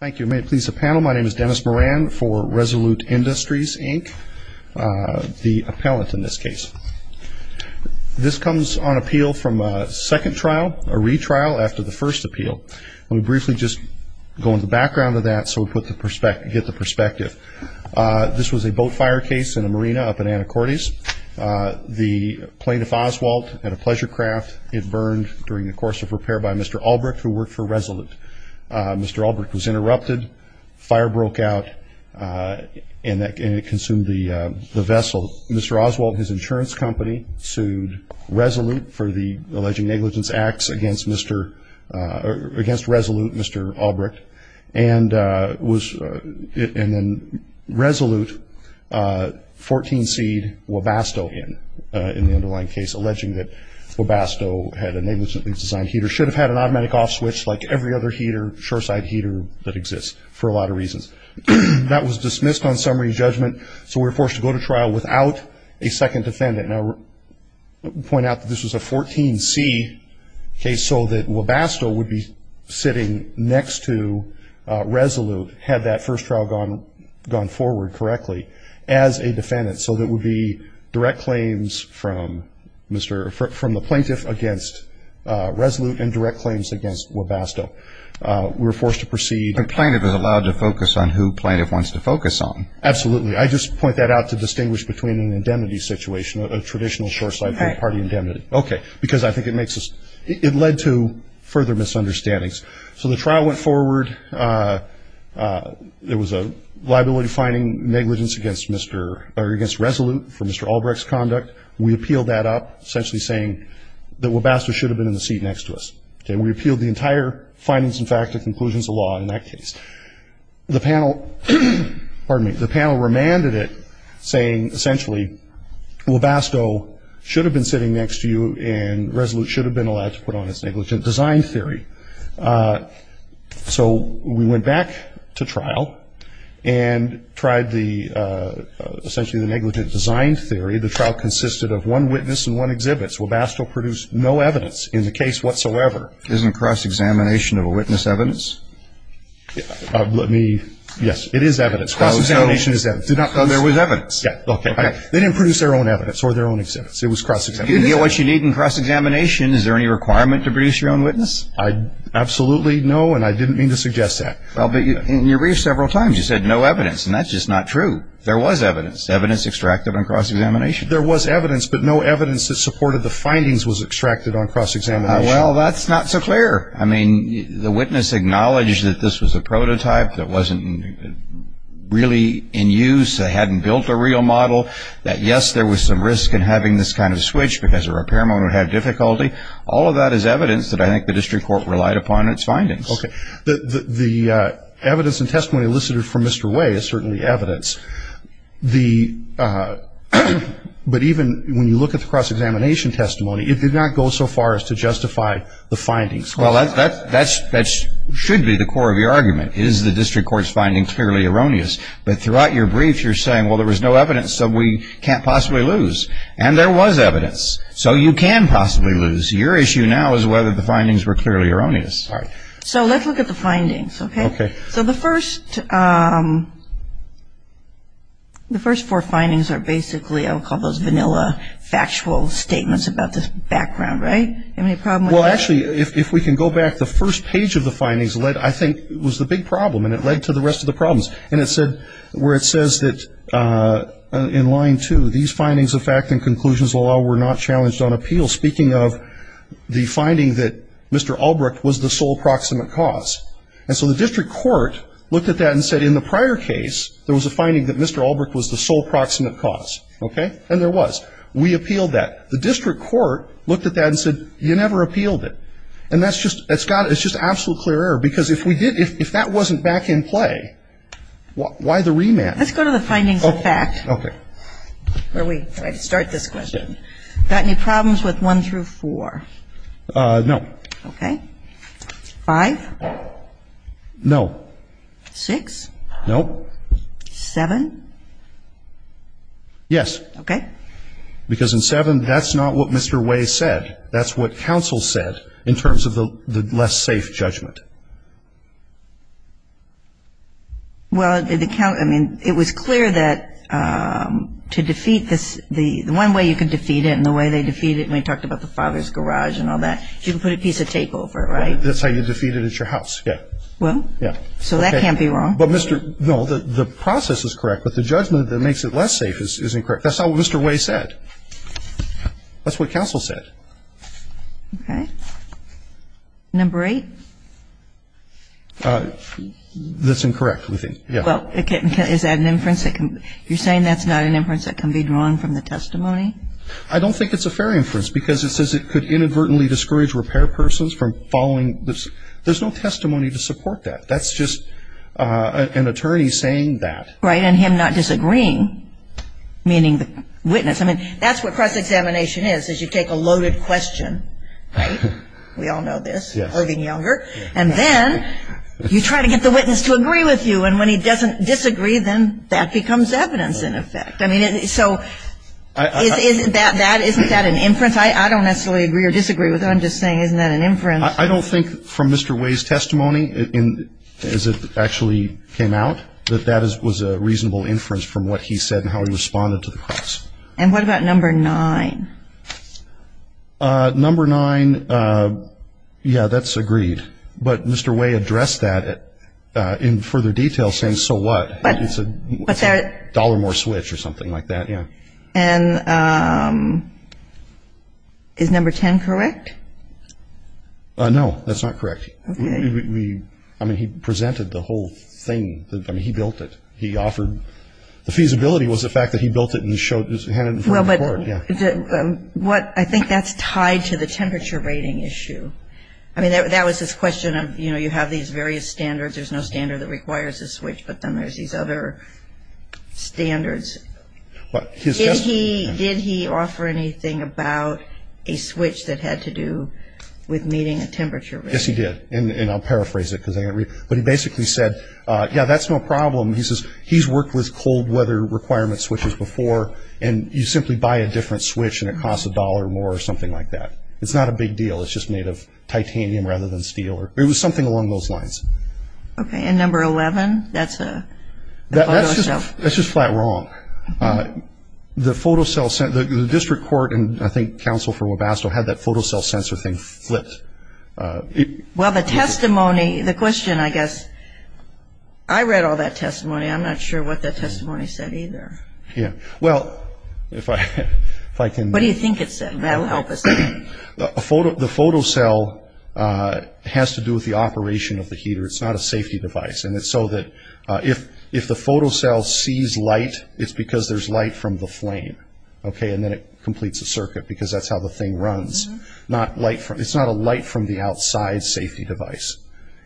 Thank you. May it please the panel, my name is Dennis Moran for Resolute Industries Inc., the appellant in this case. This comes on appeal from a second trial, a retrial after the first appeal. Let me briefly just go into the background of that so we get the perspective. This was a boat fire case in a marina up in Anacortes. The plaintiff, Oswalt, had a pleasure during the course of repair by Mr. Albrecht who worked for Resolute. Mr. Albrecht was interrupted, fire broke out, and it consumed the vessel. Mr. Oswalt and his insurance company sued Resolute for the alleged negligence acts against Resolute, Mr. Albrecht, and then Resolute 14C'd Wabasto in the underlying case, alleging that Wabasto had a negligently designed heater, should have had an automatic off switch like every other shore-side heater that exists for a lot of reasons. That was dismissed on summary judgment, so we were forced to go to trial without a second defendant. I'll point out that this was a 14C case so that Wabasto would be sitting next to Resolute had that first trial gone forward correctly as a defendant, so there would be direct claims from the plaintiff against Resolute and direct claims against Wabasto. We were forced to proceed. The plaintiff is allowed to focus on who the plaintiff wants to focus on. Absolutely. I just point that out to distinguish between an indemnity situation, a traditional shore-side party indemnity, because I think it led to further misunderstandings. So the negligence against Resolute for Mr. Albrecht's conduct, we appealed that up, essentially saying that Wabasto should have been in the seat next to us. We appealed the entire findings and fact and conclusions of law in that case. The panel remanded it, saying essentially Wabasto should have been sitting next to you and Resolute should have been allowed to put on its negligent design theory. So we went back to trial and tried the first trial, essentially the negligent design theory. The trial consisted of one witness and one exhibits. Wabasto produced no evidence in the case whatsoever. Isn't cross-examination of a witness evidence? Let me, yes, it is evidence. Cross-examination is evidence. So there was evidence? Yes. Okay. Okay. They didn't produce their own evidence or their own exhibits. It was cross-examination. If you didn't get what you need in cross-examination, is there any requirement to produce your own witness? I absolutely know and I didn't mean to suggest that. Well, but you reached several times. You said no evidence. And that's just not true. There was evidence. Evidence extracted on cross-examination. There was evidence, but no evidence that supported the findings was extracted on cross-examination. Well, that's not so clear. I mean, the witness acknowledged that this was a prototype that wasn't really in use. They hadn't built a real model. That, yes, there was some risk in having this kind of switch because a repairman would have difficulty. All of that is evidence that I think the district court relied upon in its findings. Okay. The evidence and testimony elicited from Mr. Way is certainly evidence. But even when you look at the cross-examination testimony, it did not go so far as to justify the findings. Well, that should be the core of your argument. Is the district court's findings clearly erroneous? But throughout your brief, you're saying, well, there was no evidence, so we can't possibly lose. And there was evidence, so you can possibly lose. Your issue now is whether the findings were clearly erroneous. So let's look at the findings, okay? So the first four findings are basically I'll call those vanilla factual statements about the background, right? Well, actually, if we can go back, the first page of the findings led, I think, was the big problem, and it led to the rest of the problems. And it said where it says that in line two, these findings of fact and conclusions of law were not challenged on appeal. Speaking of the finding that Mr. Albrecht was the sole proximate cause. And so the district court looked at that and said in the prior case, there was a finding that Mr. Albrecht was the sole proximate cause, okay? And there was. We appealed that. The district court looked at that and said, you never appealed it. And that's just, it's got, it's just absolute clear error. Because if we did, if that wasn't back in play, why the remand? Let's go to the findings of fact, where we start this question. Got any problems with one through four? No. Okay. Five? No. Six? No. Seven? Yes. Okay. Because in seven, that's not what Mr. Way said. That's what counsel said in terms of the less safe judgment. Well, it was clear that to defeat this, the one way you could defeat it and the way they defeat it, and we talked about the father's garage and all that, you can put a piece of tape over it, right? That's how you defeat it at your house, yeah. Well? Yeah. So that can't be wrong. But Mr. No, the process is correct, but the judgment that makes it less safe is incorrect. That's not what Mr. Way said. That's what counsel said. Okay. Number eight? That's incorrect, we think. Yeah. Well, is that an inference that can, you're saying that's not an inference that can be drawn from the testimony? I don't think it's a fair inference, because it says it could inadvertently discourage repair persons from following this. There's no testimony to support that. That's just an attorney saying that. Right. And him not disagreeing, meaning the witness. I mean, that's what cross-examination is, is you take a loaded question, right? We all know this. Irving Younger. And then you try to get the witness to agree with you, and when he doesn't disagree, then that becomes evidence, in effect. I mean, so isn't that an inference? I don't necessarily agree or disagree with what I'm just saying. Isn't that an inference? I don't think from Mr. Way's testimony, as it actually came out, that that was a reasonable inference from what he said and how he responded to the cross. And what about number nine? Number nine, yeah, that's agreed. But Mr. Way addressed that in further detail, saying so what? It's a dollar more switch or something like that, yeah. And is number ten correct? No, that's not correct. I mean, he presented the whole thing. I mean, he built it. He offered – the feasibility was the fact that he built it and had it in front of the court, yeah. I think that's tied to the temperature rating issue. I mean, that was his question of, you have these various standards. There's no standard that requires a switch, but then there's these other standards. Did he offer anything about a switch that had to do with meeting a temperature rating? Yes, he did. And I'll paraphrase it, because I didn't read it. But he basically said, yeah, that's no problem. He says he's worked with cold weather requirement switches before, and you simply buy a different switch and it costs a dollar more or something like that. It's not a big deal. It's just made of titanium rather than steel. It was something along those lines. Okay. And number eleven, that's a photo cell? That's just flat wrong. The photo cell – the district court and I think counsel for Webasto had that photo cell sensor thing flipped. Well, the testimony – the question, I guess – I read all that testimony. I'm not sure what the testimony said either. Yeah. Well, if I can – What do you think it said? That'll help us. The photo cell has to do with the operation of the heater. It's not a safety device. And it's so that if the photo cell sees light, it's because there's light from the flame. Okay? And then it completes a circuit, because that's how the thing runs. Not light from – it's not a light from the outside safety device.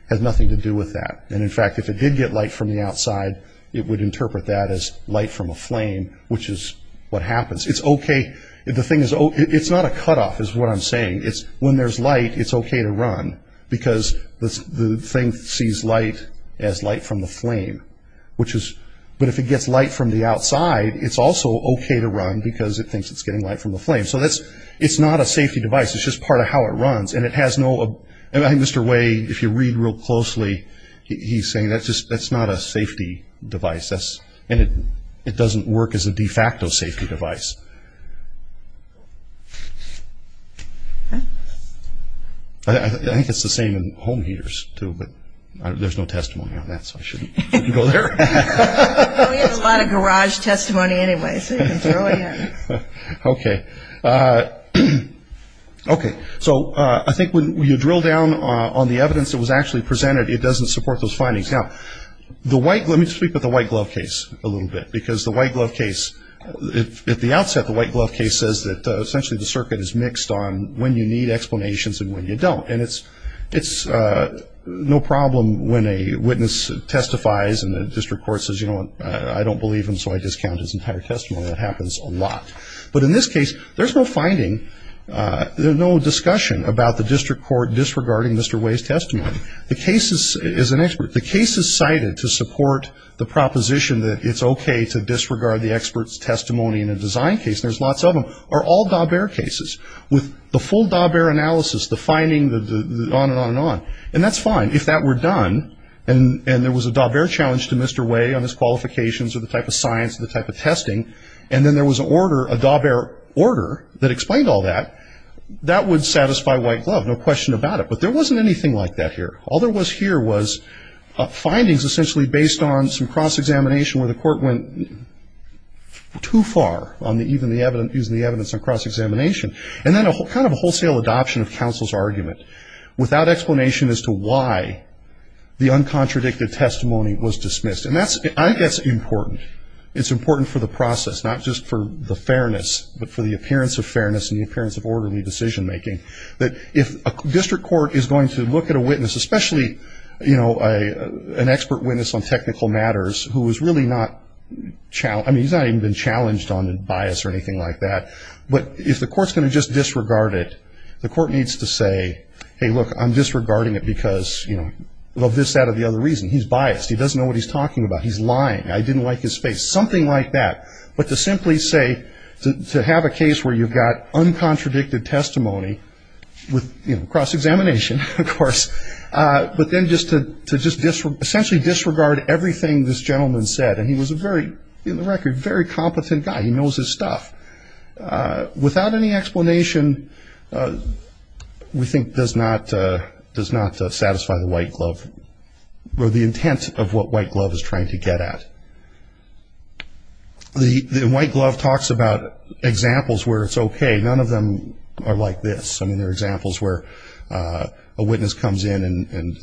It has nothing to do with that. And in fact, if it did get light from the outside, it would interpret that as light from a flame, which is what happens. It's okay – the thing is – it's not a cutoff, is what I'm saying. It's when there's light, it's okay to run, because the thing sees light as light from the flame, which is – but if it gets light from the outside, it's also okay to run, because it thinks it's getting light from the flame. So that's – it's not a safety device. It's just part of how it runs. And it has no – and I think Mr. Wade, if you read real closely, he's saying that's just – that's not a safety device. That's – and it doesn't work as a de facto safety device. I think it's the same in home heaters, too, but there's no testimony on that, so I shouldn't go there. We have a lot of garage testimony anyway, so you can throw it in. Okay. Okay. So I think when you drill down on the evidence that was actually presented, it doesn't support those findings. Now, the white – let me speak with the white glove case a little bit, because the white glove case – at the outset, the white glove case says that essentially the circuit is mixed on when you need explanations and when you don't. And it's – it's no problem when a witness testifies and the district court says, you know what, I don't believe him, so I discount his entire testimony. That happens a lot. But in this case, there's no finding – there's no discussion about the district court disregarding Mr. Way's testimony. The case is – as an expert, the case is cited to support the proposition that it's okay to disregard the expert's testimony in a design case, and there's lots of them, are all Daubert cases, with the full Daubert analysis, the finding, the – the on and on and on. And that's fine. If that were done and – and there was a Daubert challenge to Mr. Way on his qualifications or the type of science or the type of testing, and then there was an order – a Daubert order that explained all that, that would satisfy White Glove, no question about it. But there wasn't anything like that here. All there was here was findings essentially based on some cross-examination where the court went too far on the – even the – using the evidence on cross-examination. And then a kind of wholesale adoption of counsel's argument without explanation as to why the uncontradicted testimony was dismissed. And that's – I think that's important. It's for the fairness, but for the appearance of fairness and the appearance of orderly decision-making, that if a district court is going to look at a witness, especially, you know, an expert witness on technical matters who is really not – I mean, he's not even been challenged on bias or anything like that. But if the court's going to just disregard it, the court needs to say, hey, look, I'm disregarding it because, you know, of this, that, or the other reason. He's biased. He doesn't know what he's talking about. He's lying. I didn't like his face. Something like that. But to simply say – to have a case where you've got uncontradicted testimony with, you know, cross-examination, of course, but then just to – to just essentially disregard everything this gentleman said. And he was a very – in the record, a very competent guy. He knows his stuff. Without any explanation, we think, does not – does not satisfy the white glove or the get-at. The white glove talks about examples where it's okay. None of them are like this. I mean, there are examples where a witness comes in and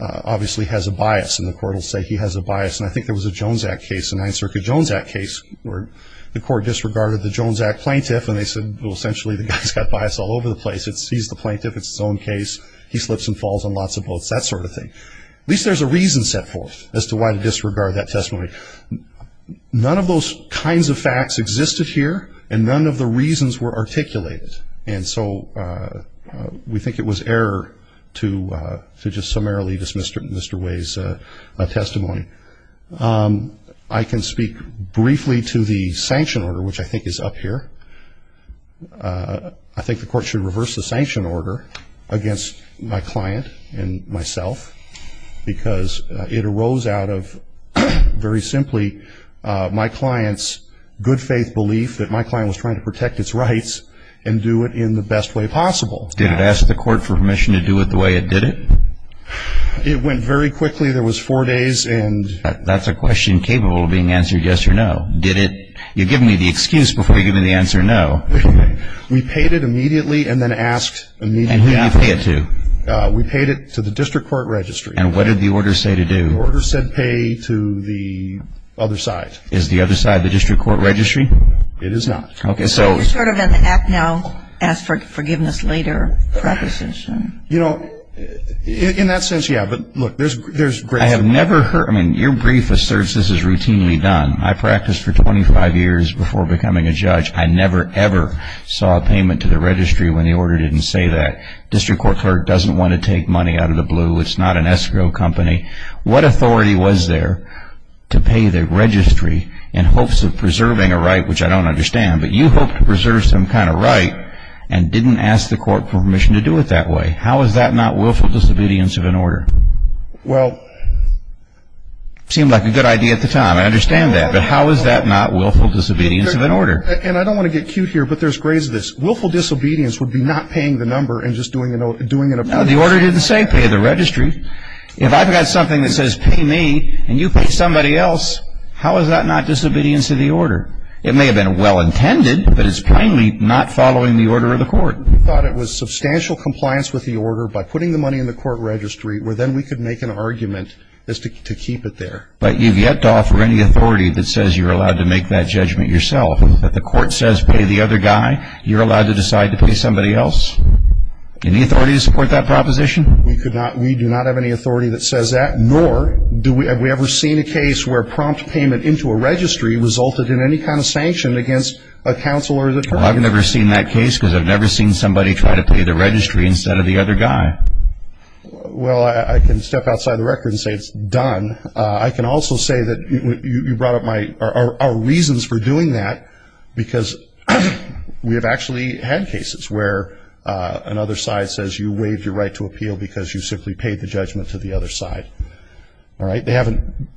obviously has a bias. And the court will say he has a bias. And I think there was a Jones Act case, a Ninth Circuit Jones Act case, where the court disregarded the Jones Act plaintiff. And they said, well, essentially, the guy's got bias all over the place. He's the plaintiff. It's his own case. He slips and falls on lots of boats. That sort of thing. At least there's a reason set forth as to why to disregard that testimony. None of those kinds of facts existed here, and none of the reasons were articulated. And so we think it was error to just summarily dismiss Mr. Way's testimony. I can speak briefly to the sanction order, which I think is up here. I think the court should reverse the sanction order against my client and myself, because it arose out of, very simply, my client's good-faith belief that my client was trying to protect its rights and do it in the best way possible. Did it ask the court for permission to do it the way it did it? It went very quickly. There was four days and That's a question capable of being answered yes or no. Did it? You've given me the excuse before you've given me the answer no. We paid it immediately and then asked immediately And who did you pay it to? We paid it to the district court registry. And what did the order say to do? The order said pay to the other side. Is the other side the district court registry? It is not. Okay, so It's sort of an act now, ask for forgiveness later preposition. You know, in that sense, yeah. But look, there's I have never heard, I mean, your brief asserts this is routinely done. I practiced for 25 years before becoming a judge. I never, ever saw a payment to the registry when the order didn't say that. District court clerk doesn't want to take money out of the blue. It's not an escrow company. What authority was there to pay the registry in hopes of preserving a right, which I don't understand, but you hope to preserve some kind of right and didn't ask the court for permission to do it that way. How is that not willful disobedience of an order? Well, It seemed like a good idea at the time. I understand that. But how is that not willful disobedience of an order? And I don't want to get cute here, but there's grades of this. Willful disobedience would be not paying the number and just doing a note, doing it. The order didn't say pay the registry. If I've got something that says pay me and you pay somebody else, how is that not disobedience of the order? It may have been well intended, but it's plainly not following the order of the court. We thought it was substantial compliance with the order by putting the money in the court registry, where then we could make an argument as to keep it there. But you've yet to offer any authority that says you're allowed to make that judgment yourself. If the court says pay the other guy, you're allowed to decide to pay somebody else. Any authority to support that proposition? We could not. We do not have any authority that says that, nor have we ever seen a case where prompt payment into a registry resulted in any kind of sanction against a counsel or attorney. Well, I've never seen that case because I've never seen somebody try to pay the registry instead of the other guy. Well, I can step outside the record and say it's done. I can also say that you brought up our reasons for doing that because we have actually had cases where another side says you waived your right to appeal because you simply paid the judgment to the other side. All right? They haven't,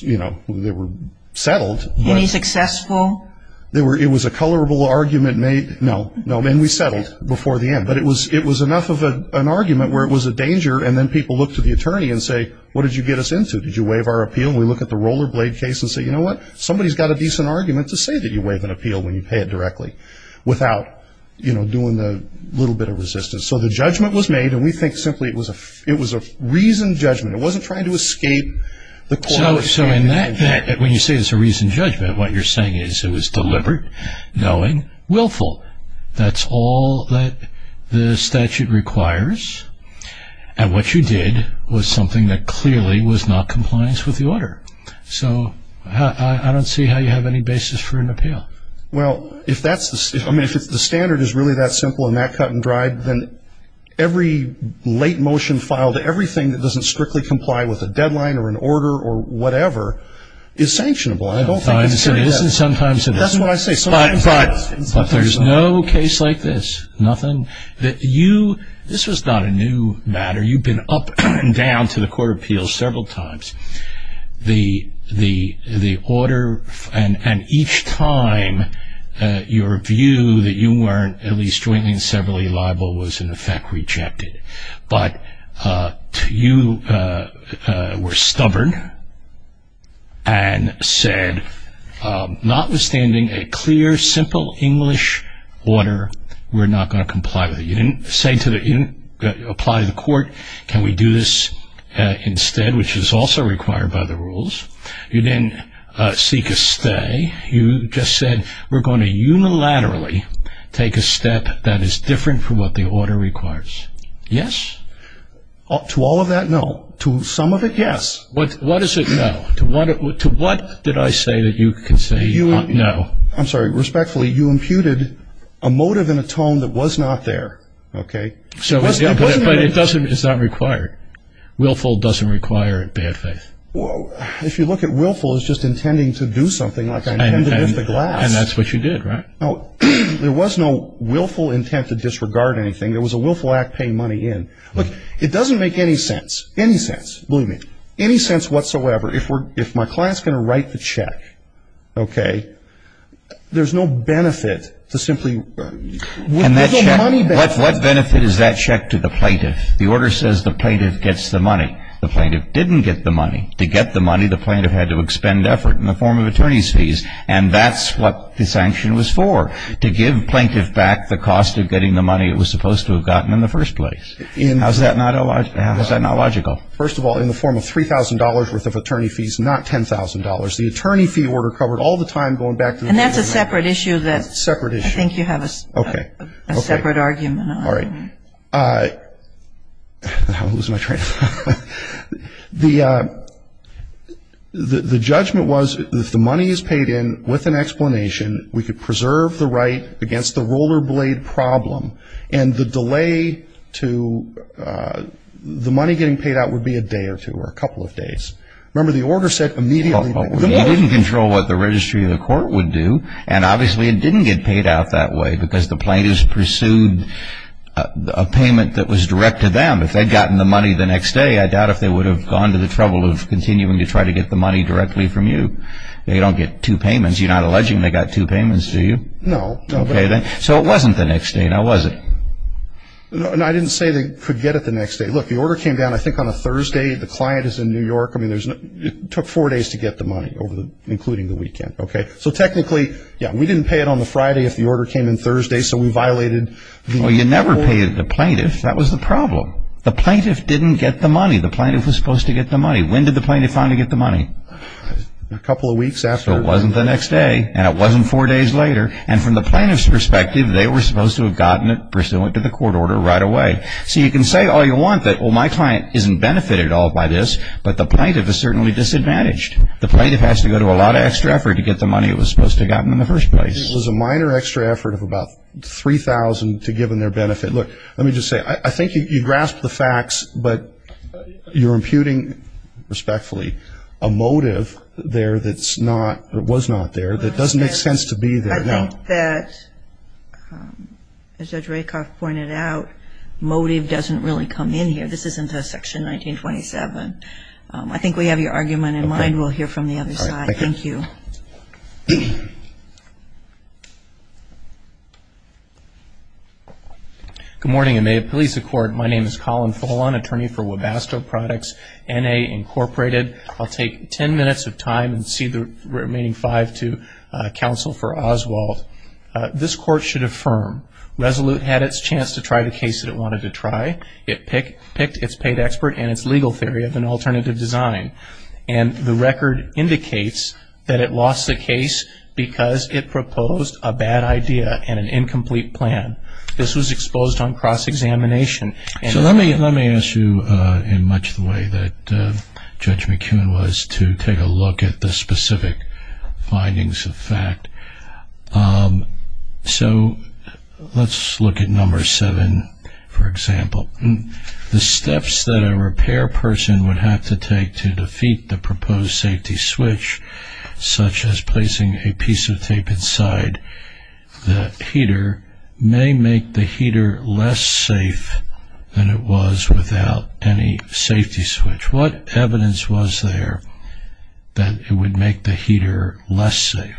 you know, they were settled. Any successful? It was a colorable argument made. No, no, and we settled before the end. But it was enough of an argument where it was a danger and then people look to the attorney and say, what did you get us into? Did you waive our appeal? And we look at the Rollerblade case and say, you know what? Somebody's got a decent argument to say that you waived an appeal when you pay it directly without, you know, doing the little bit of resistance. So the judgment was made and we think simply it was a reasoned judgment. It wasn't trying to escape the court. So in that, when you say it's a reasoned judgment, what you're saying is it was deliberate, knowing, willful. That's all that the statute requires. And what you did was something that clearly was not compliance with the order. So I don't see how you have any basis for an appeal. Well, if that's the, I mean, if it's the standard is really that simple and that cut and dried, then every late motion filed, everything that doesn't strictly comply with a deadline or an order or whatever is sanctionable. I don't think it's very good. Sometimes it is and sometimes it isn't. That's what I say. But there's no case like this. Nothing that you, this was not a new matter. You've been up and down to the court of appeals several times. The order and each time your view that you weren't at least jointly and severally liable was in effect rejected. But you were submitting a clear, simple English order. We're not going to comply with it. You didn't say to the, you didn't apply to the court, can we do this instead, which is also required by the rules. You didn't seek a stay. You just said, we're going to unilaterally take a step that is different from what the order requires. Yes? To all of that, no. To some of it, yes. What is it no? To what did I say that you could say no? I'm sorry. Respectfully, you imputed a motive and a tone that was not there. Okay? But it doesn't, it's not required. Willful doesn't require bad faith. If you look at willful, it's just intending to do something like I intended with the glass. And that's what you did, right? There was no willful intent to disregard anything. There was a willful act paying money in. It doesn't make any sense. Any sense. Believe me. Any sense whatsoever. If my client's going to write the check, okay, there's no benefit to simply, with the money benefit. What benefit is that check to the plaintiff? The order says the plaintiff gets the money. The plaintiff didn't get the money. To get the money, the plaintiff had to expend effort in the form of attorney's fees. And that's what the sanction was for. To give plaintiff back the cost of getting the money it was supposed to have gotten in the first place. How's that not logical? First of all, in the form of $3,000 worth of attorney fees, not $10,000. The attorney fee order covered all the time going back to the plaintiff. And that's a separate issue that I think you have a separate argument on. The judgment was if the money is paid in with an explanation, we could preserve the right against the roller blade problem. And the delay to the money getting paid out would be a day or two or a couple of days. Remember the order said immediately back to the plaintiff. You didn't control what the registry of the court would do. And obviously it didn't get paid out that way because the plaintiff pursued a payment that was direct to them. If they'd gotten the money the next day, I doubt if they would have gone to the trouble of continuing to try to get the money directly from you. They don't get two payments. You're not alleging they got two payments, do you? No. So it wasn't the next day, now was it? No, I didn't say they could get it the next day. Look, the order came down I think on a Thursday. The client is in New York. It took four days to get the money, including the weekend. So technically, yeah, we didn't pay it on the Friday if the order came in Thursday, so we violated... Well, you never paid the plaintiff. That was the problem. The plaintiff didn't get the money. The plaintiff was supposed to get the money. When did the plaintiff finally get the money? A couple of weeks after. So it wasn't the next day, and it wasn't four days later, and from the plaintiff's perspective, they were supposed to have gotten it pursuant to the court order right away. So you can say all you want that, well, my client isn't benefited at all by this, but the plaintiff is certainly disadvantaged. The plaintiff has to go to a lot of extra effort to get the money it was supposed to have gotten in the first place. It was a minor extra effort of about $3,000 to give them their benefit. Look, let me just say, I think you grasp the facts, but you're imputing, respectfully, a motive there that's not, or was not there, that doesn't make sense to be there. I think that, as Judge Rakoff pointed out, motive doesn't really come in here. This isn't a Section 1927. I think we have your argument in mind. We'll hear from the other side. Thank you. Good morning, and may it please the Court, my name is Colin Fullon, attorney for Webasto Products, N.A. Incorporated. I'll take 10 minutes of time and cede the remaining five to counsel for Oswald. This Court should affirm, Resolute had its chance to try the case that it wanted to try. It picked its paid expert and its legal theory of an alternative design. And the record indicates that it lost the case because it proposed a bad idea and an incomplete plan. This was exposed on cross-examination. So let me ask you, in much the way that Judge McKeown was, to take a look at the specific findings of fact. So let's look at number seven, for example. The steps that a repair person would have to take to defeat the proposed safety switch, such as placing a piece of tape inside the heater, may make the heater less safe than it was without any safety switch. What evidence was there that it would make the heater less safe?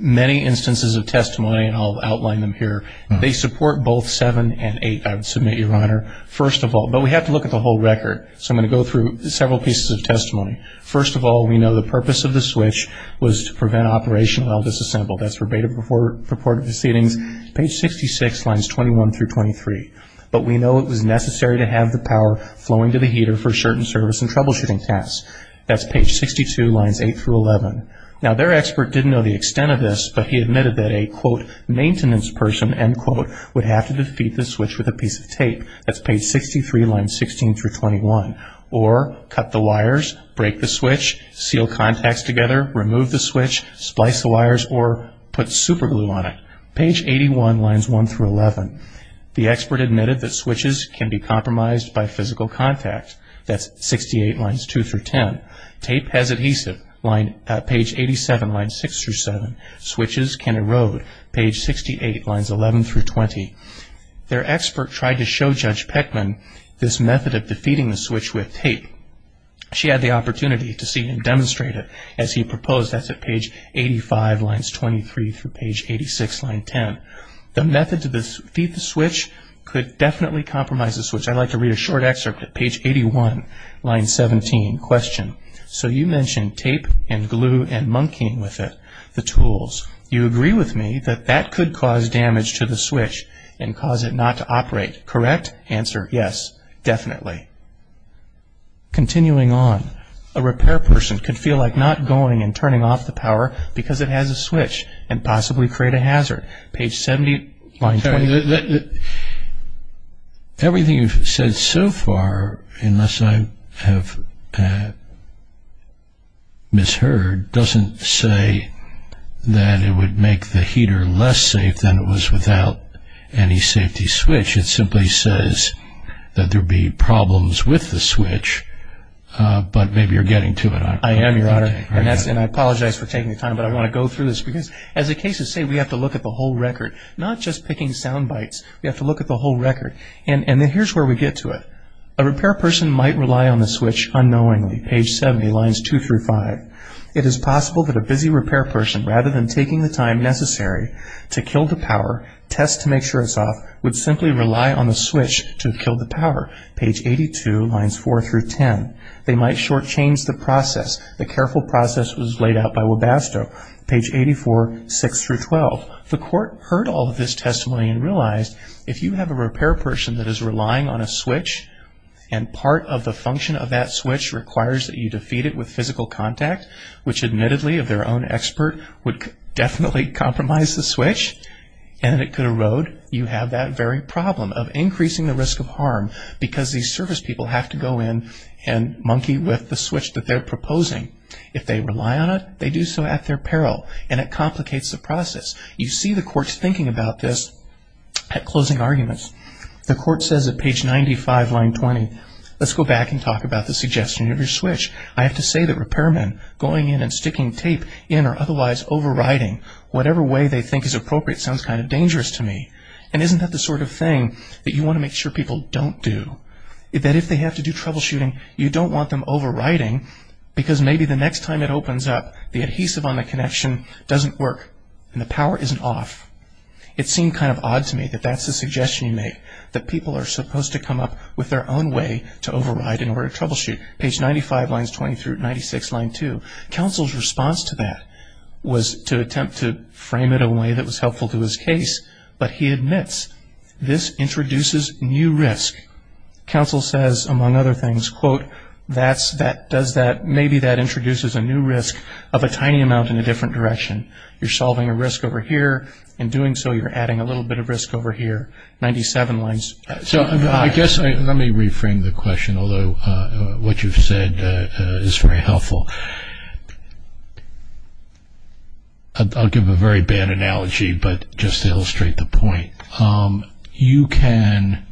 Many instances of testimony, and I'll outline them here, they support both seven and eight, I would submit, Your Honor. First of all, but we have to look at the whole record. So I'm going to go through several pieces of testimony. First of all, we know the purpose of the switch was to prevent operation while disassembled. That's verbatim purported proceedings. Page 66, lines 21 through 23. But we know it was necessary to have the power flowing to the heater for certain service and troubleshooting tasks. That's page 62, lines 8 through 11. Now their expert didn't know the extent of this, but he admitted that a, quote, maintenance person, end quote, would have to defeat the switch with a piece of tape. That's page 63, lines 16 through 21. Or cut the wires, break the switch, seal contacts together, remove the switch, splice the wires, or put super glue on it. Page 81, lines 1 through 11. The expert admitted that switches can be compromised by physical contact. That's 68, lines 2 through 10. Tape has adhesive. Page 87, lines 6 through 7. Switches can erode. Page 68, lines 11 through 20. Their expert tried to show Judge Peckman this method of defeating the switch with tape. She had the opportunity to see him demonstrate it, as he proposed. That's at page 85, lines 23 through page 86, line 10. The method to defeat the switch could definitely compromise the switch. I'd like to read a short excerpt at page 81, line 17. Question. So you mentioned tape and glue and monkeying with it, the tools. You agree with me that that could cause damage to the switch and cause it not to operate, correct? Answer, yes, definitely. Continuing on. A repair person could feel like not going and turning off the power because it has a switch and possibly create a hazard. Page 70, line 20. Everything you've said so far, unless I have misheard, doesn't say that it would make the heater less safe than it was without any safety switch. It simply says that there'd be problems with the switch, but maybe you're getting to it. I am, Your Honor. And I apologize for taking the time, but I want to go through this because, as the cases say, we have to look at the whole record, not just picking sound bites. We have to look at the whole record. And then here's where we get to it. A repair person might rely on the switch unknowingly. Page 70, lines 2 through 5. It is possible that a busy repair person rather than taking the time necessary to kill the power, test to make sure it's off, would simply rely on the switch to kill the power. Page 82, lines 4 through 10. They might short-change the process. The careful process was laid out by Webasto. Page 84, 6 through 12. The court heard all of this testimony and realized, if you have a repair person that is relying on a switch and part of the function of that switch requires that you defeat it with physical contact, which admittedly of their own expert would definitely compromise the switch and it could erode, you have that very problem of increasing the risk of harm because these service people have to go in and monkey with the switch that they're proposing. If they rely on it, they do so at their peril and it complicates the process. You see the courts thinking about this at closing arguments. The court says at page 95, line 20, let's go back and talk about the suggestion of your switch. I have to say that repairmen going in and sticking tape in or otherwise overriding whatever way they think is appropriate sounds kind of dangerous to me. And isn't that the sort of thing that you want to make sure people don't do? That if they have to do troubleshooting, you don't want them overriding because maybe the next time it opens up, the adhesive on the connection doesn't work and the power isn't off. It seemed kind of odd to me that that's the suggestion you make, that people are supposed to come up with their own way to override in order to troubleshoot. Page 95, lines 20 through 96, line 2. Counsel's response to that was to attempt to frame it in a way that was helpful to his case, but he admits this introduces new risk. Counsel says, among other things, quote, maybe that introduces a new risk of a tiny amount in a different direction. You're adding a little bit of risk over here. 97 lines. So I guess let me reframe the question, although what you've said is very helpful. I'll give a very bad analogy, but just to illustrate the point. You can,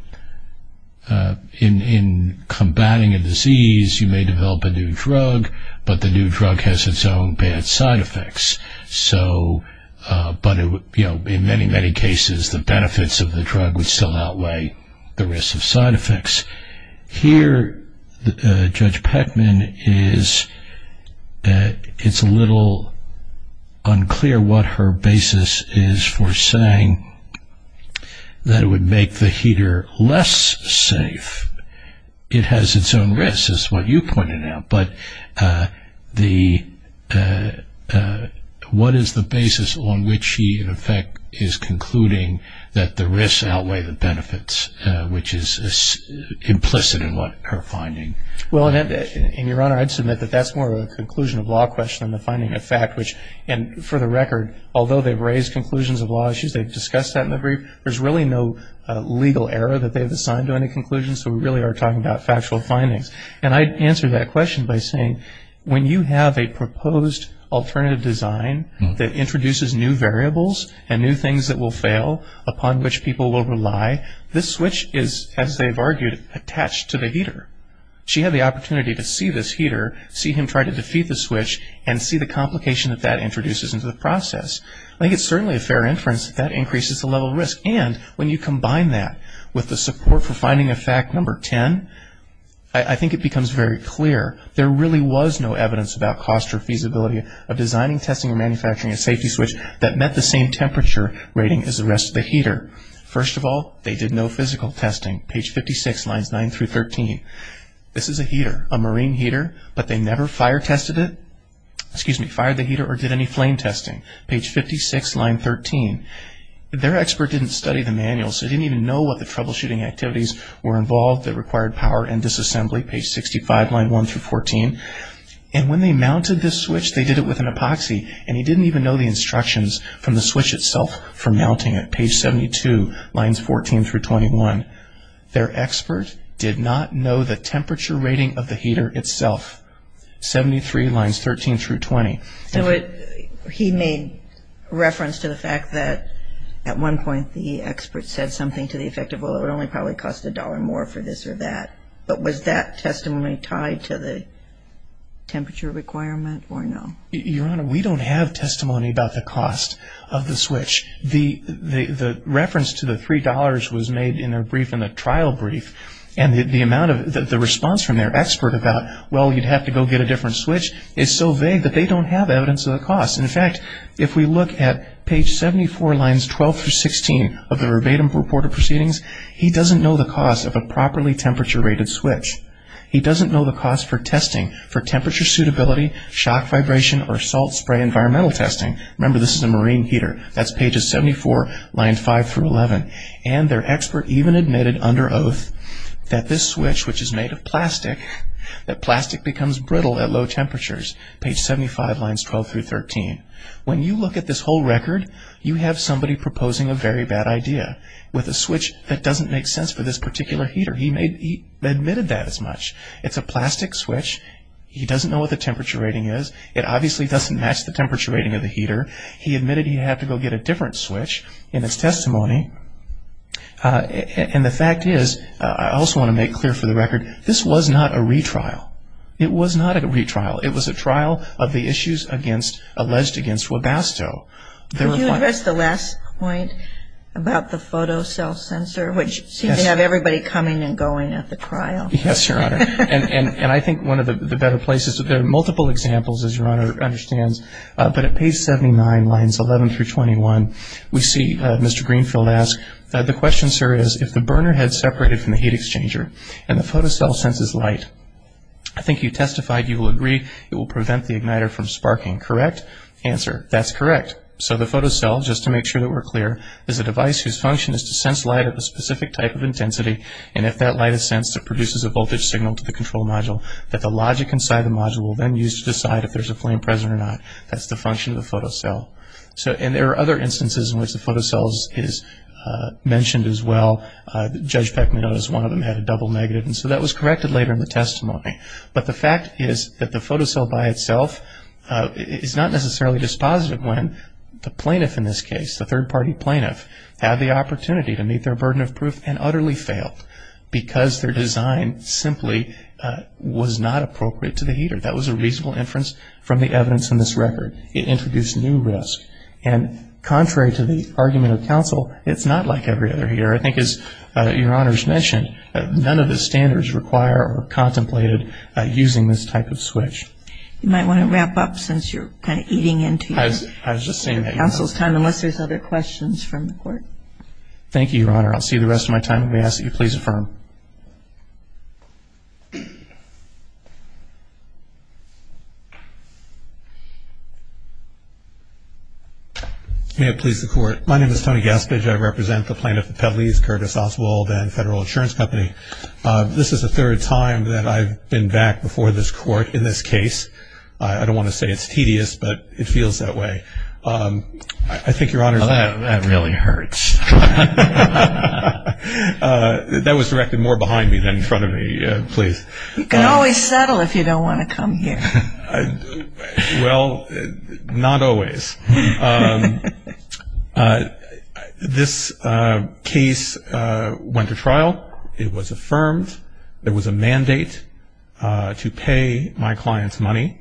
in combating a disease, you may develop a new drug, but the new drug has its own bad side effects. But in many, many cases, the benefits of the drug would still outweigh the risks of side effects. Here, Judge Peckman, it's a little unclear what her basis on which she, in effect, is concluding that the risks outweigh the benefits, which is implicit in what her finding. Well, in your honor, I'd submit that that's more of a conclusion of law question than the finding of fact, which, and for the record, although they've raised conclusions of law issues, they've discussed that in the brief, there's really no legal error that they've assigned to any conclusions, so we really are talking about factual findings. And I'd answer that question by saying, when you have a proposed alternative design that introduces new variables and new things that will fail upon which people will rely, this switch is, as they've argued, attached to the heater. She had the opportunity to see this heater, see him try to defeat the switch, and see the complication that that introduces into the process. I think it's certainly a fair inference that that increases the level of risk. And when you combine that with the support for finding of fact number 10, I think it becomes very clear there really was no evidence about cost or feasibility of designing, testing, or manufacturing a safety switch that met the same temperature rating as the rest of the heater. First of all, they did no physical testing, page 56, lines 9 through 13. This is a heater, a marine heater, but they never fire tested it, excuse me, fired the heater or did any flame testing, page 56, line 13. Their expert didn't study the manual, so he didn't even know what the troubleshooting activities were involved that required power and disassembly, page 65, line 1 through 14. And when they mounted this switch, they did it with an epoxy, and he didn't even know the instructions from the switch itself for mounting it, page 72, lines 14 through 21. Their expert did not know the temperature rating of the heater itself, 73 lines 13 through 20. So he made reference to the fact that at one point the expert said something to the effect of, well, it would only probably cost a dollar more for this or that, but was that testimony tied to the temperature requirement or no? Your Honor, we don't have testimony about the cost of the switch. The reference to the $3 was made in the trial brief, and the response from their expert about, well, you'd have to go get a different switch, is so vague that they don't have evidence of the cost. In fact, if we look at page 74, lines 12 through 16 of the verbatim report of proceedings, he doesn't know the cost of a properly temperature rated switch. He doesn't know the cost for testing, for temperature suitability, shock vibration, or salt spray environmental testing. Remember, this is a marine heater. That's pages 74, line 5 through 11. And their expert even admitted under oath that this switch, which is made of plastic, that plastic becomes brittle at low temperatures, page 75, lines 12 through 13. When you look at this whole record, you have somebody proposing a very bad idea with a switch that doesn't make sense for this particular heater. He admitted that as much. It's a plastic switch. He doesn't know what the temperature rating is. It doesn't make sense to me. And the fact is, I also want to make clear for the record, this was not a retrial. It was not a retrial. It was a trial of the issues against, alleged against Webasto. Can you address the last point about the photo cell sensor, which seems to have everybody coming and going at the trial? Yes, Your Honor. And I think one of the better places, there are multiple examples, as Your Honor understands, but at page 79, lines 11 through 21, we see Mr. Greenfield ask, the question, sir, is, if the burner head separated from the heat exchanger and the photo cell senses light, I think you testified you will agree it will prevent the igniter from sparking, correct? Answer, that's correct. So the photo cell, just to make sure that we're clear, is a device whose function is to sense light of a specific type of intensity, and if that light is sensed, it produces a voltage signal to the control module that the logic inside the module will then use to decide if there's a flame present or not. That's the function of the photo cell. So, and there are other instances in which the photo cell is mentioned as well. Judge Beckman noticed one of them had a double negative, and so that was corrected later in the testimony. But the fact is that the photo cell by itself is not necessarily dispositive when the plaintiff in this case, the third-party plaintiff, had the opportunity to meet their burden of proof and utterly failed because their design simply was not appropriate to the reasonable inference from the evidence in this record. It introduced new risk. And contrary to the argument of counsel, it's not like every other here. I think as Your Honor's mentioned, none of the standards require or are contemplated using this type of switch. You might want to wrap up since you're kind of eating into your counsel's time, unless there's other questions from the court. Thank you, Your Honor. I'll see you the rest of my time. May I ask that you please affirm? May it please the Court. My name is Tony Gaspage. I represent the plaintiff of Petalese, Curtis Oswald, and Federal Insurance Company. This is the third time that I've been back before this Court in this case. I don't want to say it's tedious, but it feels that way. I think Your Honor's That really hurts. That was directed more behind me than in front of me. Please. You can always settle if you don't want to come here. Well, not always. This case went to trial. It was affirmed. There was a mandate to pay my client's money.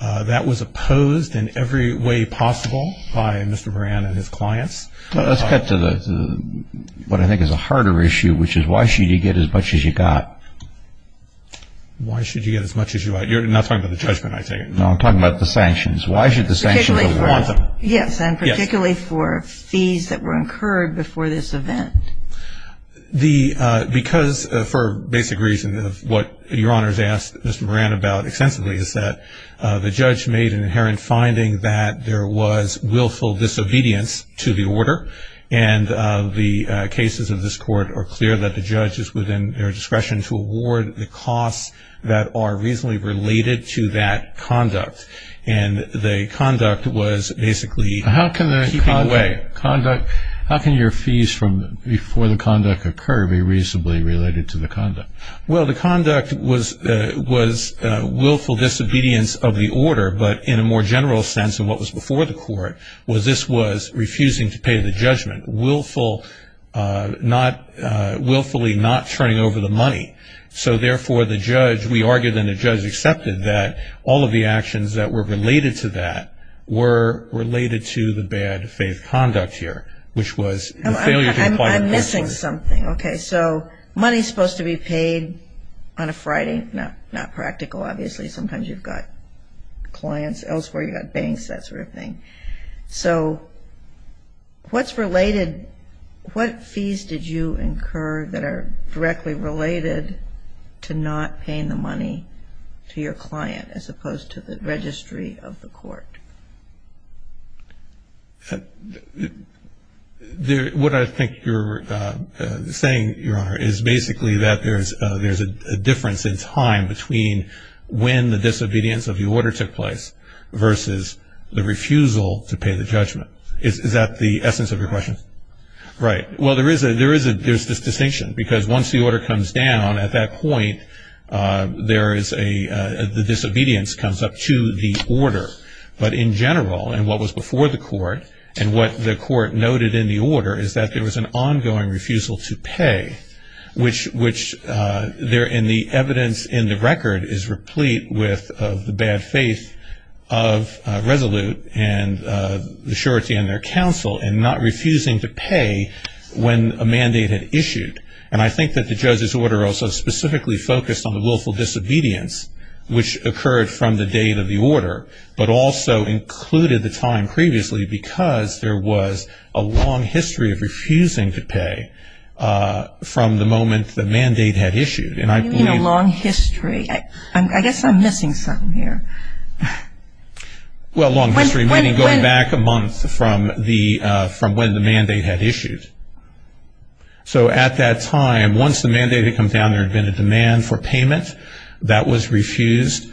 That was opposed in every way possible by Mr. Moran and his clients. Let's cut to what I think is a harder issue, which is why should you get as much as you got? Why should you get as much as you got? You're not talking about the judgment, I take it? No, I'm talking about the sanctions. Why should the sanctions be warranted? Yes, and particularly for fees that were incurred before this event. Because, for a basic reason of what Your Honor's asked Mr. Moran about extensively, is that the judge made an inherent finding that there was that are reasonably related to that conduct, and the conduct was basically keeping away. How can your fees before the conduct occur be reasonably related to the conduct? Well, the conduct was willful disobedience of the order, but in a more general sense of what was before the court, was this was refusing to pay the judgment, willfully not turning over the money. So, therefore, the judge, we argued and the judge accepted that all of the actions that were related to that were related to the bad faith conduct here, which was the failure to comply. I'm missing something. Okay, so money's supposed to be paid on a Friday? Not practical, obviously. Sometimes you've got clients elsewhere, you've got banks, that sort of thing. So, what's related, what fees did you incur that are directly related to not paying the money to your client, as opposed to the registry of the court? What I think you're saying, Your Honor, is basically that there's a difference in time between when the disobedience of the order took place versus the refusal to pay the judgment. Is that the essence of your question? Right. Well, there is this distinction, because once the order comes down, at that point, there is a, the disobedience comes up to the order. But in general, and what was before the court, and what the court noted in the order, is that there was an ongoing refusal to pay, which there in the evidence in the record is replete with the bad faith of Resolute and the surety in their counsel, and not refusing to pay when a mandate had issued. And I think that the judge's order also specifically focused on the willful disobedience, which occurred from the date of the order, but also included the time previously, because there was a long history of refusing to pay from the moment the mandate had issued. You mean a long history. I guess I'm missing something here. Well, a long history, meaning going back a month from when the mandate had issued. So at that time, once the mandate had come down, there had been a demand for payment. That was refused.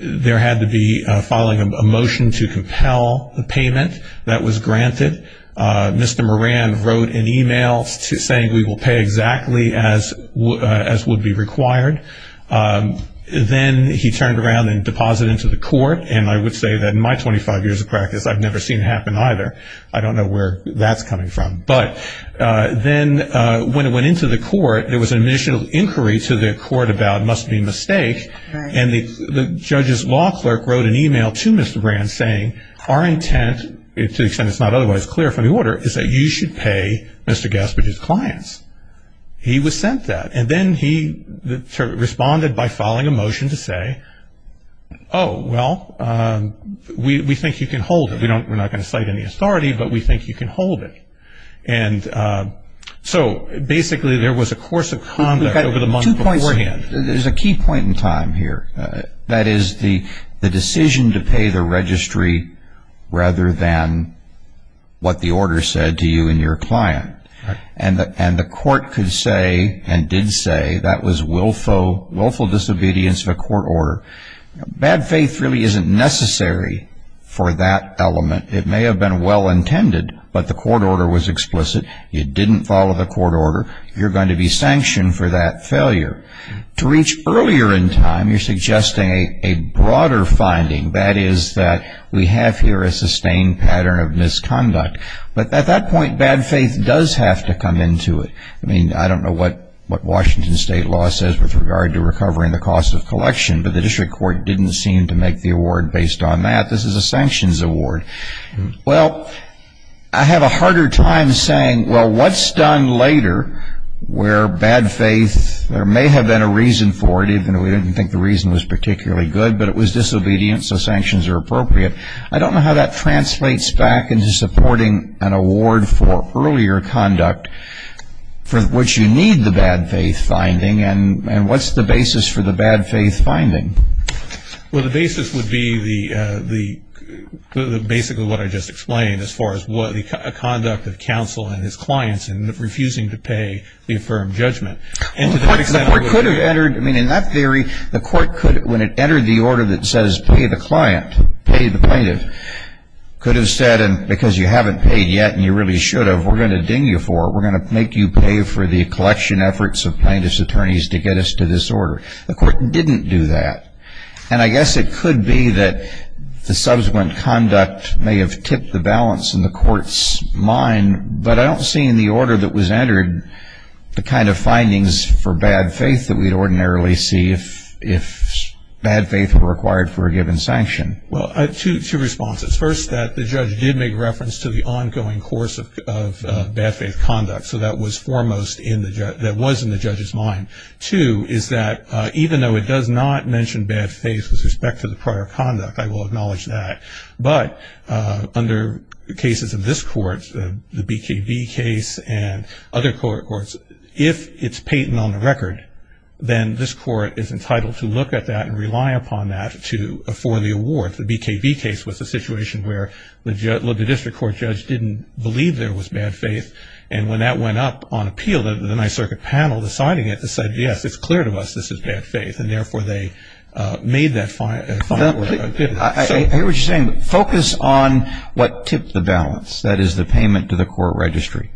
There had to be filing a motion to compel the payment. That was granted. Mr. Moran wrote an e-mail saying we will pay exactly as would be required. Then he turned around and deposited it to the court, and I would say that in my 25 years of practice, I've never seen it happen either. I don't know where that's coming from. But then when it went into the court, there was an initial inquiry to the court about it must be a mistake, and the judge's law clerk wrote an e-mail to Mr. Moran saying our intent, to the extent it's not otherwise clear from the order, is that you should pay Mr. Gaspard's clients. He was sent that. And then he responded by filing a motion to say, oh, well, we think you can hold it. We're not going to cite any authority, but we think you can hold it. So basically there was a course of conduct over the month beforehand. There's a key point in time here. That is the decision to pay the registry rather than what the order said to you and your client. And the court could say and did say that was willful disobedience of a court order. Bad faith really isn't necessary for that element. It may have been well intended, but the court order was explicit. It didn't follow the court order. You're going to be sanctioned for that failure. To reach earlier in time, you're suggesting a broader finding. That is that we have here a sustained pattern of misconduct. But at that point, bad faith does have to come into it. I mean, I don't know what Washington state law says with regard to recovering the cost of collection, but the district court didn't seem to make the award based on that. This is a sanctions award. Well, I have a harder time saying, well, what's done later where bad faith, there may have been a reason for it, even though we didn't think the reason was particularly good, but it was disobedience, so sanctions are appropriate. I don't know how that translates back into supporting an award for earlier conduct, for which you need the bad faith finding. And what's the basis for the bad faith finding? Well, the basis would be basically what I just explained as far as the conduct of counsel and his clients in refusing to pay the affirmed judgment. The court could have entered, I mean, in that theory, when it entered the order that says pay the client, pay the plaintiff, could have said, because you haven't paid yet and you really should have, we're going to ding you for it, we're going to make you pay for the collection efforts of plaintiff's attorneys to get us to this order. The court didn't do that. And I guess it could be that the subsequent conduct may have tipped the balance in the court's mind, but I don't see in the order that was entered the kind of findings for bad faith that we'd ordinarily see if bad faith were required for a given sanction. Well, two responses. First, that the judge did make reference to the ongoing course of bad faith conduct, so that was foremost that was in the judge's mind. Two is that even though it does not mention bad faith with respect to the prior conduct, I will acknowledge that, but under cases of this court, the BKB case and other courts, if it's patent on the record, then this court is entitled to look at that and rely upon that for the award. The BKB case was a situation where the district court judge didn't believe there was bad faith, and when that went up on appeal, the Ninth Circuit panel deciding it said, yes, it's clear to us this is bad faith, and therefore they made that final opinion. I hear what you're saying, but focus on what tipped the balance, that is the payment to the court registry.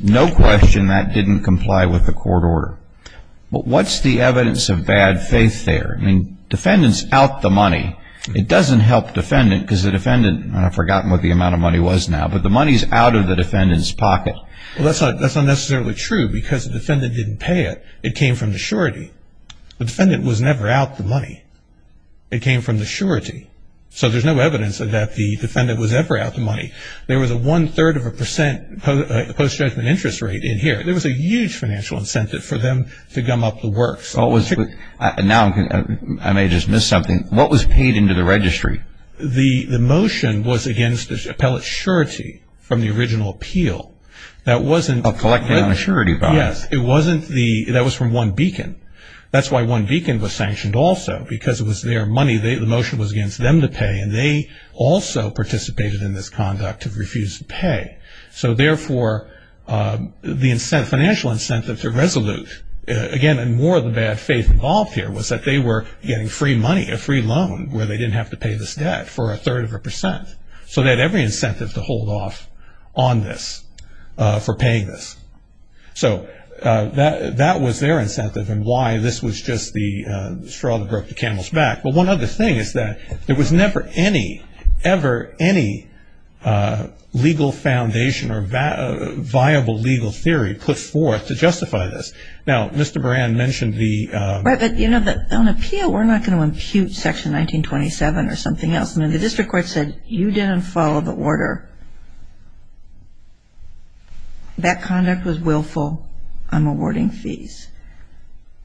No question that didn't comply with the court order. But what's the evidence of bad faith there? I mean, defendant's out the money. It doesn't help defendant because the defendant, and I've forgotten what the amount of money was now, but the money's out of the defendant's pocket. Well, that's not necessarily true because the defendant didn't pay it. It came from the surety. The defendant was never out the money. It came from the surety. So there's no evidence that the defendant was ever out the money. There was a one-third of a percent post-judgment interest rate in here. There was a huge financial incentive for them to gum up the works. Now I may have just missed something. What was paid into the registry? The motion was against the appellate surety from the original appeal. Collected on a surety bond? Yes. That was from One Beacon. That's why One Beacon was sanctioned also because it was their money. The motion was against them to pay, and they also participated in this conduct to refuse to pay. So, therefore, the financial incentive to resolute, again, in more of the bad faith involved here, was that they were getting free money, a free loan, where they didn't have to pay this debt for a third of a percent. So they had every incentive to hold off on this for paying this. So that was their incentive and why this was just the straw that broke the camel's back. But one other thing is that there was never any, ever any legal foundation or viable legal theory put forth to justify this. Now, Mr. Moran mentioned the ---- Right, but, you know, on appeal, we're not going to impute Section 1927 or something else. I mean, the district court said you didn't follow the order. That conduct was willful. I'm awarding fees.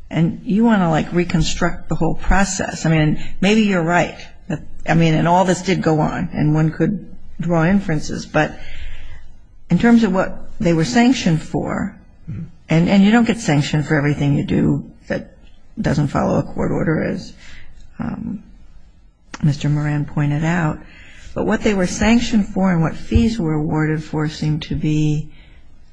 And you want to, like, reconstruct the whole process. I mean, maybe you're right. I mean, and all this did go on, and one could draw inferences. But in terms of what they were sanctioned for, and you don't get sanctioned for everything you do that doesn't follow a court order, as Mr. Moran pointed out, but what they were sanctioned for and what fees were awarded for seemed to be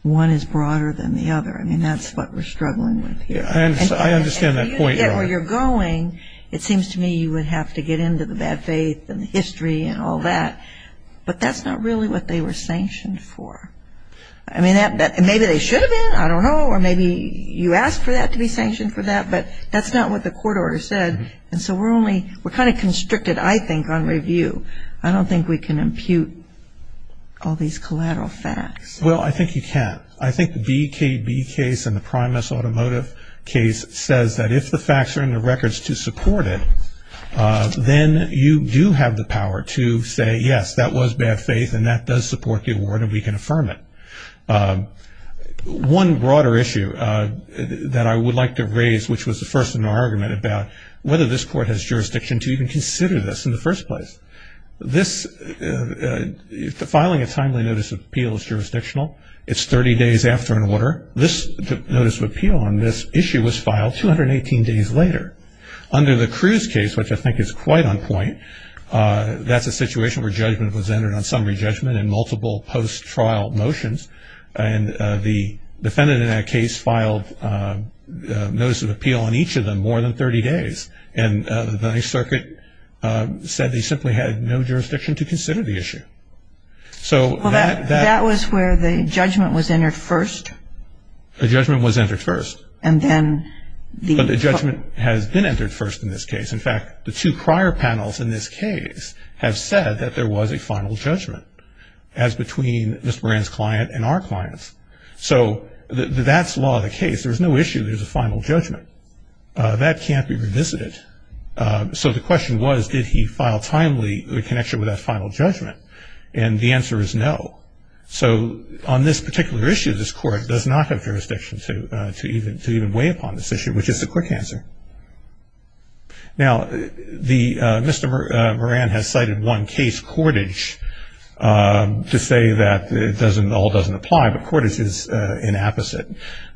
one is broader than the other. I mean, that's what we're struggling with here. I understand that point. And yet where you're going, it seems to me you would have to get into the bad faith and the history and all that. But that's not really what they were sanctioned for. I mean, maybe they should have been. I don't know. Or maybe you asked for that to be sanctioned for that. But that's not what the court order said. And so we're only ---- we're kind of constricted, I think, on review. I don't think we can impute all these collateral facts. Well, I think you can. I think the BKB case and the Primus Automotive case says that if the facts are in the records to support it, then you do have the power to say, yes, that was bad faith and that does support the award and we can affirm it. One broader issue that I would like to raise, which was the first in our argument, about whether this court has jurisdiction to even consider this in the first place. This ---- filing a timely notice of appeal is jurisdictional. It's 30 days after an order. This notice of appeal on this issue was filed 218 days later. Under the Cruz case, which I think is quite on point, that's a situation where judgment was entered on summary judgment and multiple post-trial motions. And the defendant in that case filed notice of appeal on each of them more than 30 days. And the Ninth Circuit said they simply had no jurisdiction to consider the issue. So that ---- Well, that was where the judgment was entered first. The judgment was entered first. And then the ---- But the judgment has been entered first in this case. In fact, the two prior panels in this case have said that there was a final judgment, as between Mr. Moran's client and our clients. So that's law of the case. There's no issue there's a final judgment. That can't be revisited. So the question was, did he file timely in connection with that final judgment? And the answer is no. So on this particular issue, this Court does not have jurisdiction to even weigh upon this issue, which is the quick answer. Now, Mr. Moran has cited one case, Cordage, to say that it all doesn't apply, but Cordage is inapposite.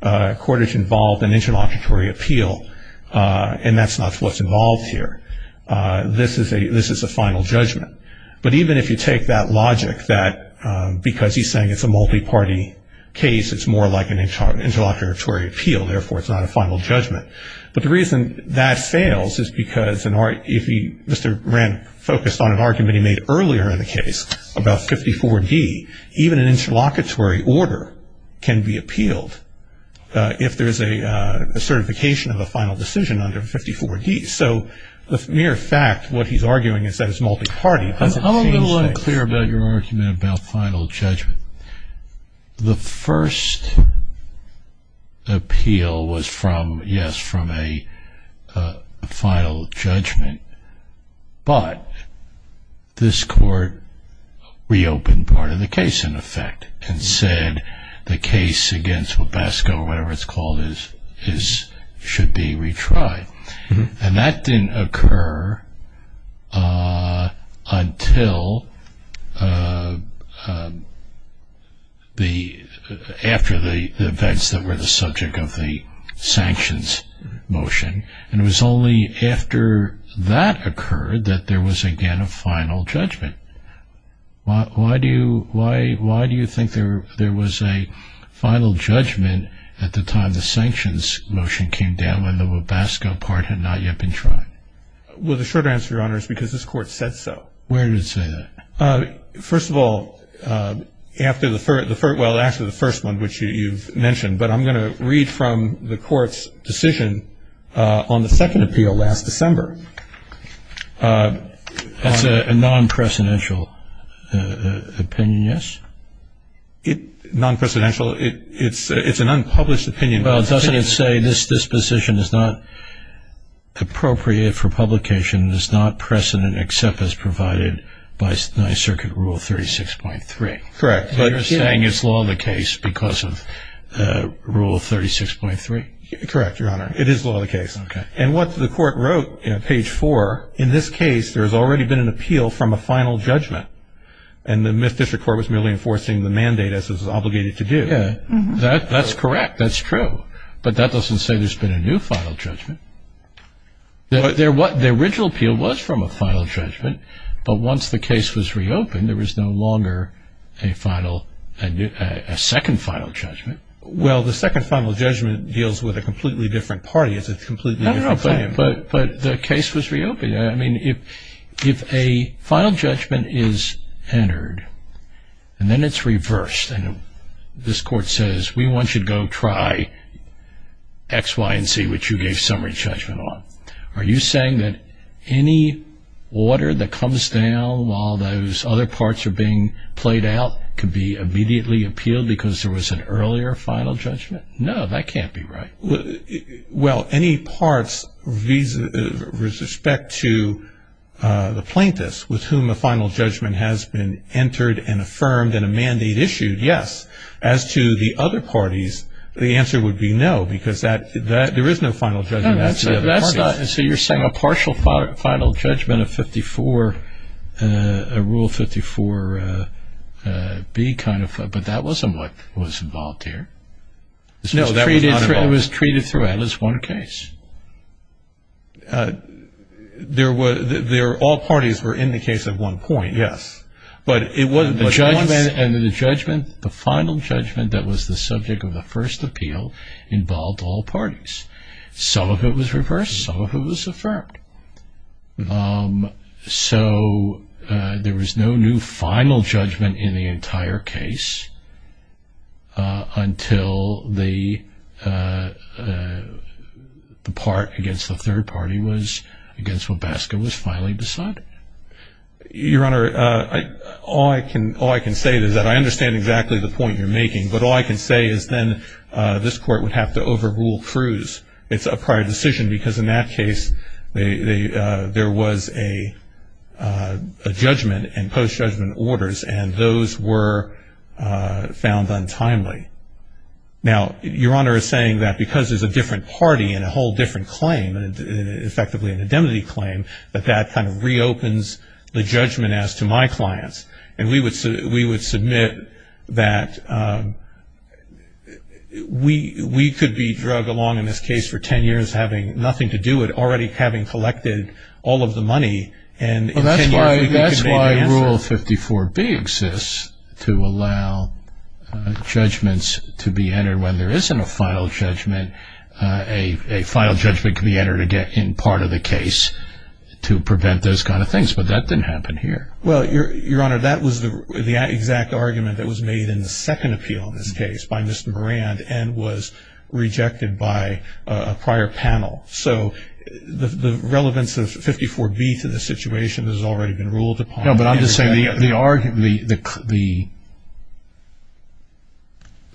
Cordage involved an interlocutory appeal, and that's not what's involved here. This is a final judgment. But even if you take that logic that because he's saying it's a multi-party case, it's more like an interlocutory appeal, therefore it's not a final judgment. But the reason that fails is because if Mr. Moran focused on an argument he made earlier in the case about 54D, even an interlocutory order can be appealed if there's a certification of a final decision under 54D. So the mere fact what he's arguing is that it's multi-party doesn't change things. I'm a little unclear about your argument about final judgment. The first appeal was from, yes, from a final judgment. But this court reopened part of the case, in effect, and said the case against Webasco or whatever it's called should be retried. And that didn't occur until after the events that were the subject of the sanctions motion. And it was only after that occurred that there was again a final judgment. Why do you think there was a final judgment at the time the sanctions motion came down when the Webasco part had not yet been tried? Well, the short answer, Your Honor, is because this court said so. Where did it say that? First of all, after the first one, which you've mentioned, but I'm going to read from the court's decision on the second appeal last December. It's a non-precedential opinion, yes? Non-precedential? It's an unpublished opinion. Well, doesn't it say this disposition is not appropriate for publication, is not precedent except as provided by Ninth Circuit Rule 36.3? Correct. So you're saying it's law in the case because of Rule 36.3? Correct, Your Honor. It is law in the case. And what the court wrote in page 4, in this case there has already been an appeal from a final judgment, and the Myth District Court was merely enforcing the mandate as it was obligated to do. That's correct. That's true. But that doesn't say there's been a new final judgment. The original appeal was from a final judgment, but once the case was reopened there was no longer a second final judgment. Well, the second final judgment deals with a completely different party. It's a completely different claim. I don't know, but the case was reopened. I mean, if a final judgment is entered and then it's reversed, and this court says we want you to go try X, Y, and Z, which you gave summary judgment on, are you saying that any order that comes down while those other parts are being played out could be immediately appealed because there was an earlier final judgment? No, that can't be right. Well, any parts with respect to the plaintiffs with whom a final judgment has been entered and affirmed and a mandate issued, yes. As to the other parties, the answer would be no because there is no final judgment. So you're saying a partial final judgment of Rule 54B kind of thing, but that wasn't what was involved here. No, that was not involved. It was treated throughout as one case. All parties were in the case at one point. Yes. But it wasn't once. The judgment, the final judgment that was the subject of the first appeal involved all parties. Some of it was reversed. Some of it was affirmed. So there was no new final judgment in the entire case until the part against the third party was against what Baskin was finally deciding. Your Honor, all I can say is that I understand exactly the point you're making, but all I can say is then this Court would have to overrule Cruz. It's a prior decision because in that case there was a judgment and post-judgment orders, and those were found untimely. Now, Your Honor is saying that because there's a different party and a whole different claim, effectively an indemnity claim, that that kind of reopens the judgment as to my clients. And we would submit that we could be drug along in this case for ten years having nothing to do with it, already having collected all of the money. Well, that's why Rule 54B exists to allow judgments to be entered. When there isn't a final judgment, a final judgment can be entered in part of the case to prevent those kind of things. But that didn't happen here. Well, Your Honor, that was the exact argument that was made in the second appeal in this case by Mr. Moran and was rejected by a prior panel. So the relevance of 54B to the situation has already been ruled upon. No, but I'm just saying the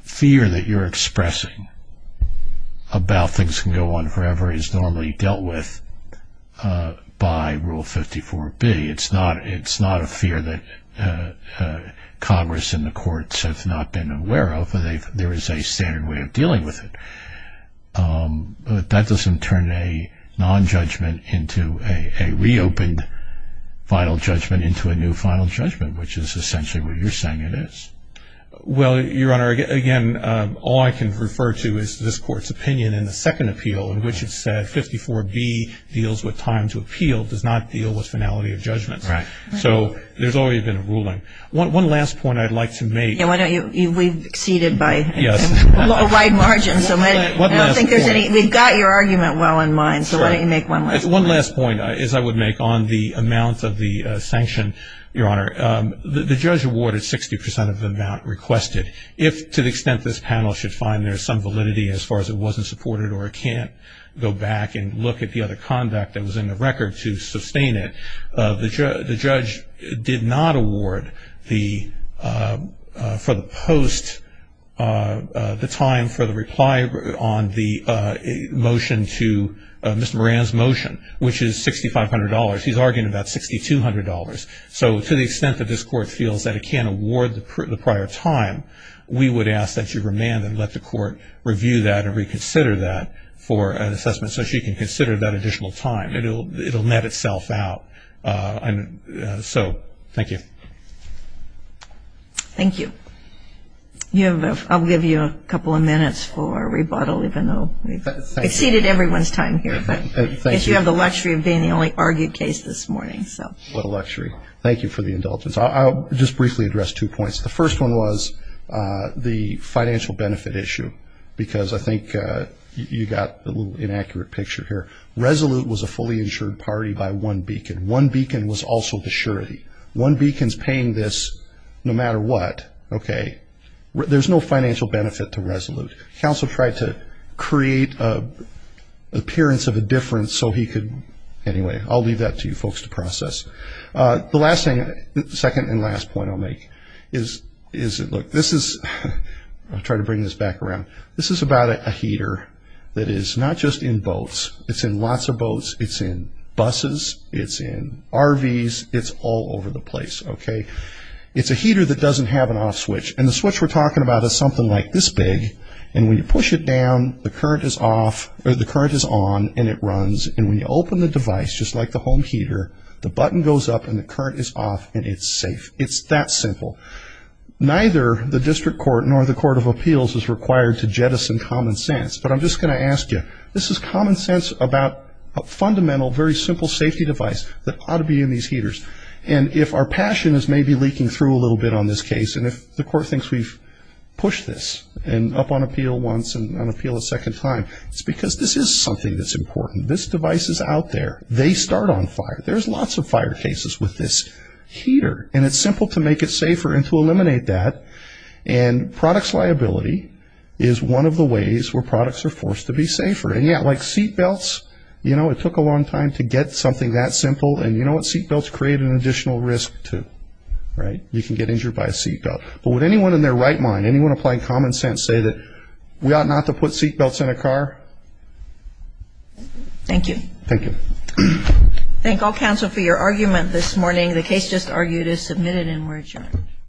fear that you're expressing about things can go on forever is normally dealt with by Rule 54B. It's not a fear that Congress and the courts have not been aware of. There is a standard way of dealing with it. But that doesn't turn a nonjudgment into a reopened final judgment into a new final judgment, which is essentially what you're saying it is. Well, Your Honor, again, all I can refer to is this Court's opinion in the second appeal in which it said 54B deals with time to appeal, does not deal with finality of judgment. Right. So there's already been a ruling. One last point I'd like to make. Yeah, why don't you? We've exceeded by a wide margin, so I don't think there's any. We've got your argument well in mind, so why don't you make one last point? One last point is I would make on the amount of the sanction, Your Honor. The judge awarded 60% of the amount requested. If, to the extent this panel should find there's some validity as far as it wasn't supported or it can't go back and look at the other conduct that was in the record to sustain it, the judge did not award for the post the time for the reply on the motion to Mr. Moran's motion, which is $6,500. He's arguing about $6,200. So to the extent that this court feels that it can't award the prior time, we would ask that you remand and let the court review that and reconsider that for an assessment so she can consider that additional time. It will net itself out. So thank you. Thank you. I'll give you a couple of minutes for rebuttal, even though we've exceeded everyone's time here. Thank you. We have the luxury of being the only argued case this morning. What a luxury. Thank you for the indulgence. I'll just briefly address two points. The first one was the financial benefit issue because I think you got a little inaccurate picture here. Resolute was a fully insured party by one beacon. One beacon was also the surety. One beacon is paying this no matter what. Okay. There's no financial benefit to Resolute. Counsel tried to create an appearance of a difference so he could – anyway, I'll leave that to you folks to process. The second and last point I'll make is, look, this is – I'll try to bring this back around. This is about a heater that is not just in boats. It's in lots of boats. It's in buses. It's in RVs. It's all over the place. Okay. It's a heater that doesn't have an off switch, and the switch we're talking about is something like this big, and when you push it down, the current is on and it runs, and when you open the device, just like the home heater, the button goes up and the current is off and it's safe. It's that simple. Neither the district court nor the court of appeals is required to jettison common sense, but I'm just going to ask you, this is common sense about a fundamental, very simple safety device that ought to be in these heaters, and if our passion is maybe leaking through a little bit on this case and if the court thinks we've pushed this up on appeal once and on appeal a second time, it's because this is something that's important. This device is out there. They start on fire. There's lots of fire cases with this heater, and it's simple to make it safer and to eliminate that, and products liability is one of the ways where products are forced to be safer, and yeah, like seatbelts, you know, it took a long time to get something that simple, and you know what? Seatbelts create an additional risk too, right? You can get injured by a seatbelt, but would anyone in their right mind, anyone applying common sense say that we ought not to put seatbelts in a car? Thank you. Thank you. Thank all counsel for your argument this morning. The case just argued is submitted and we're adjourned.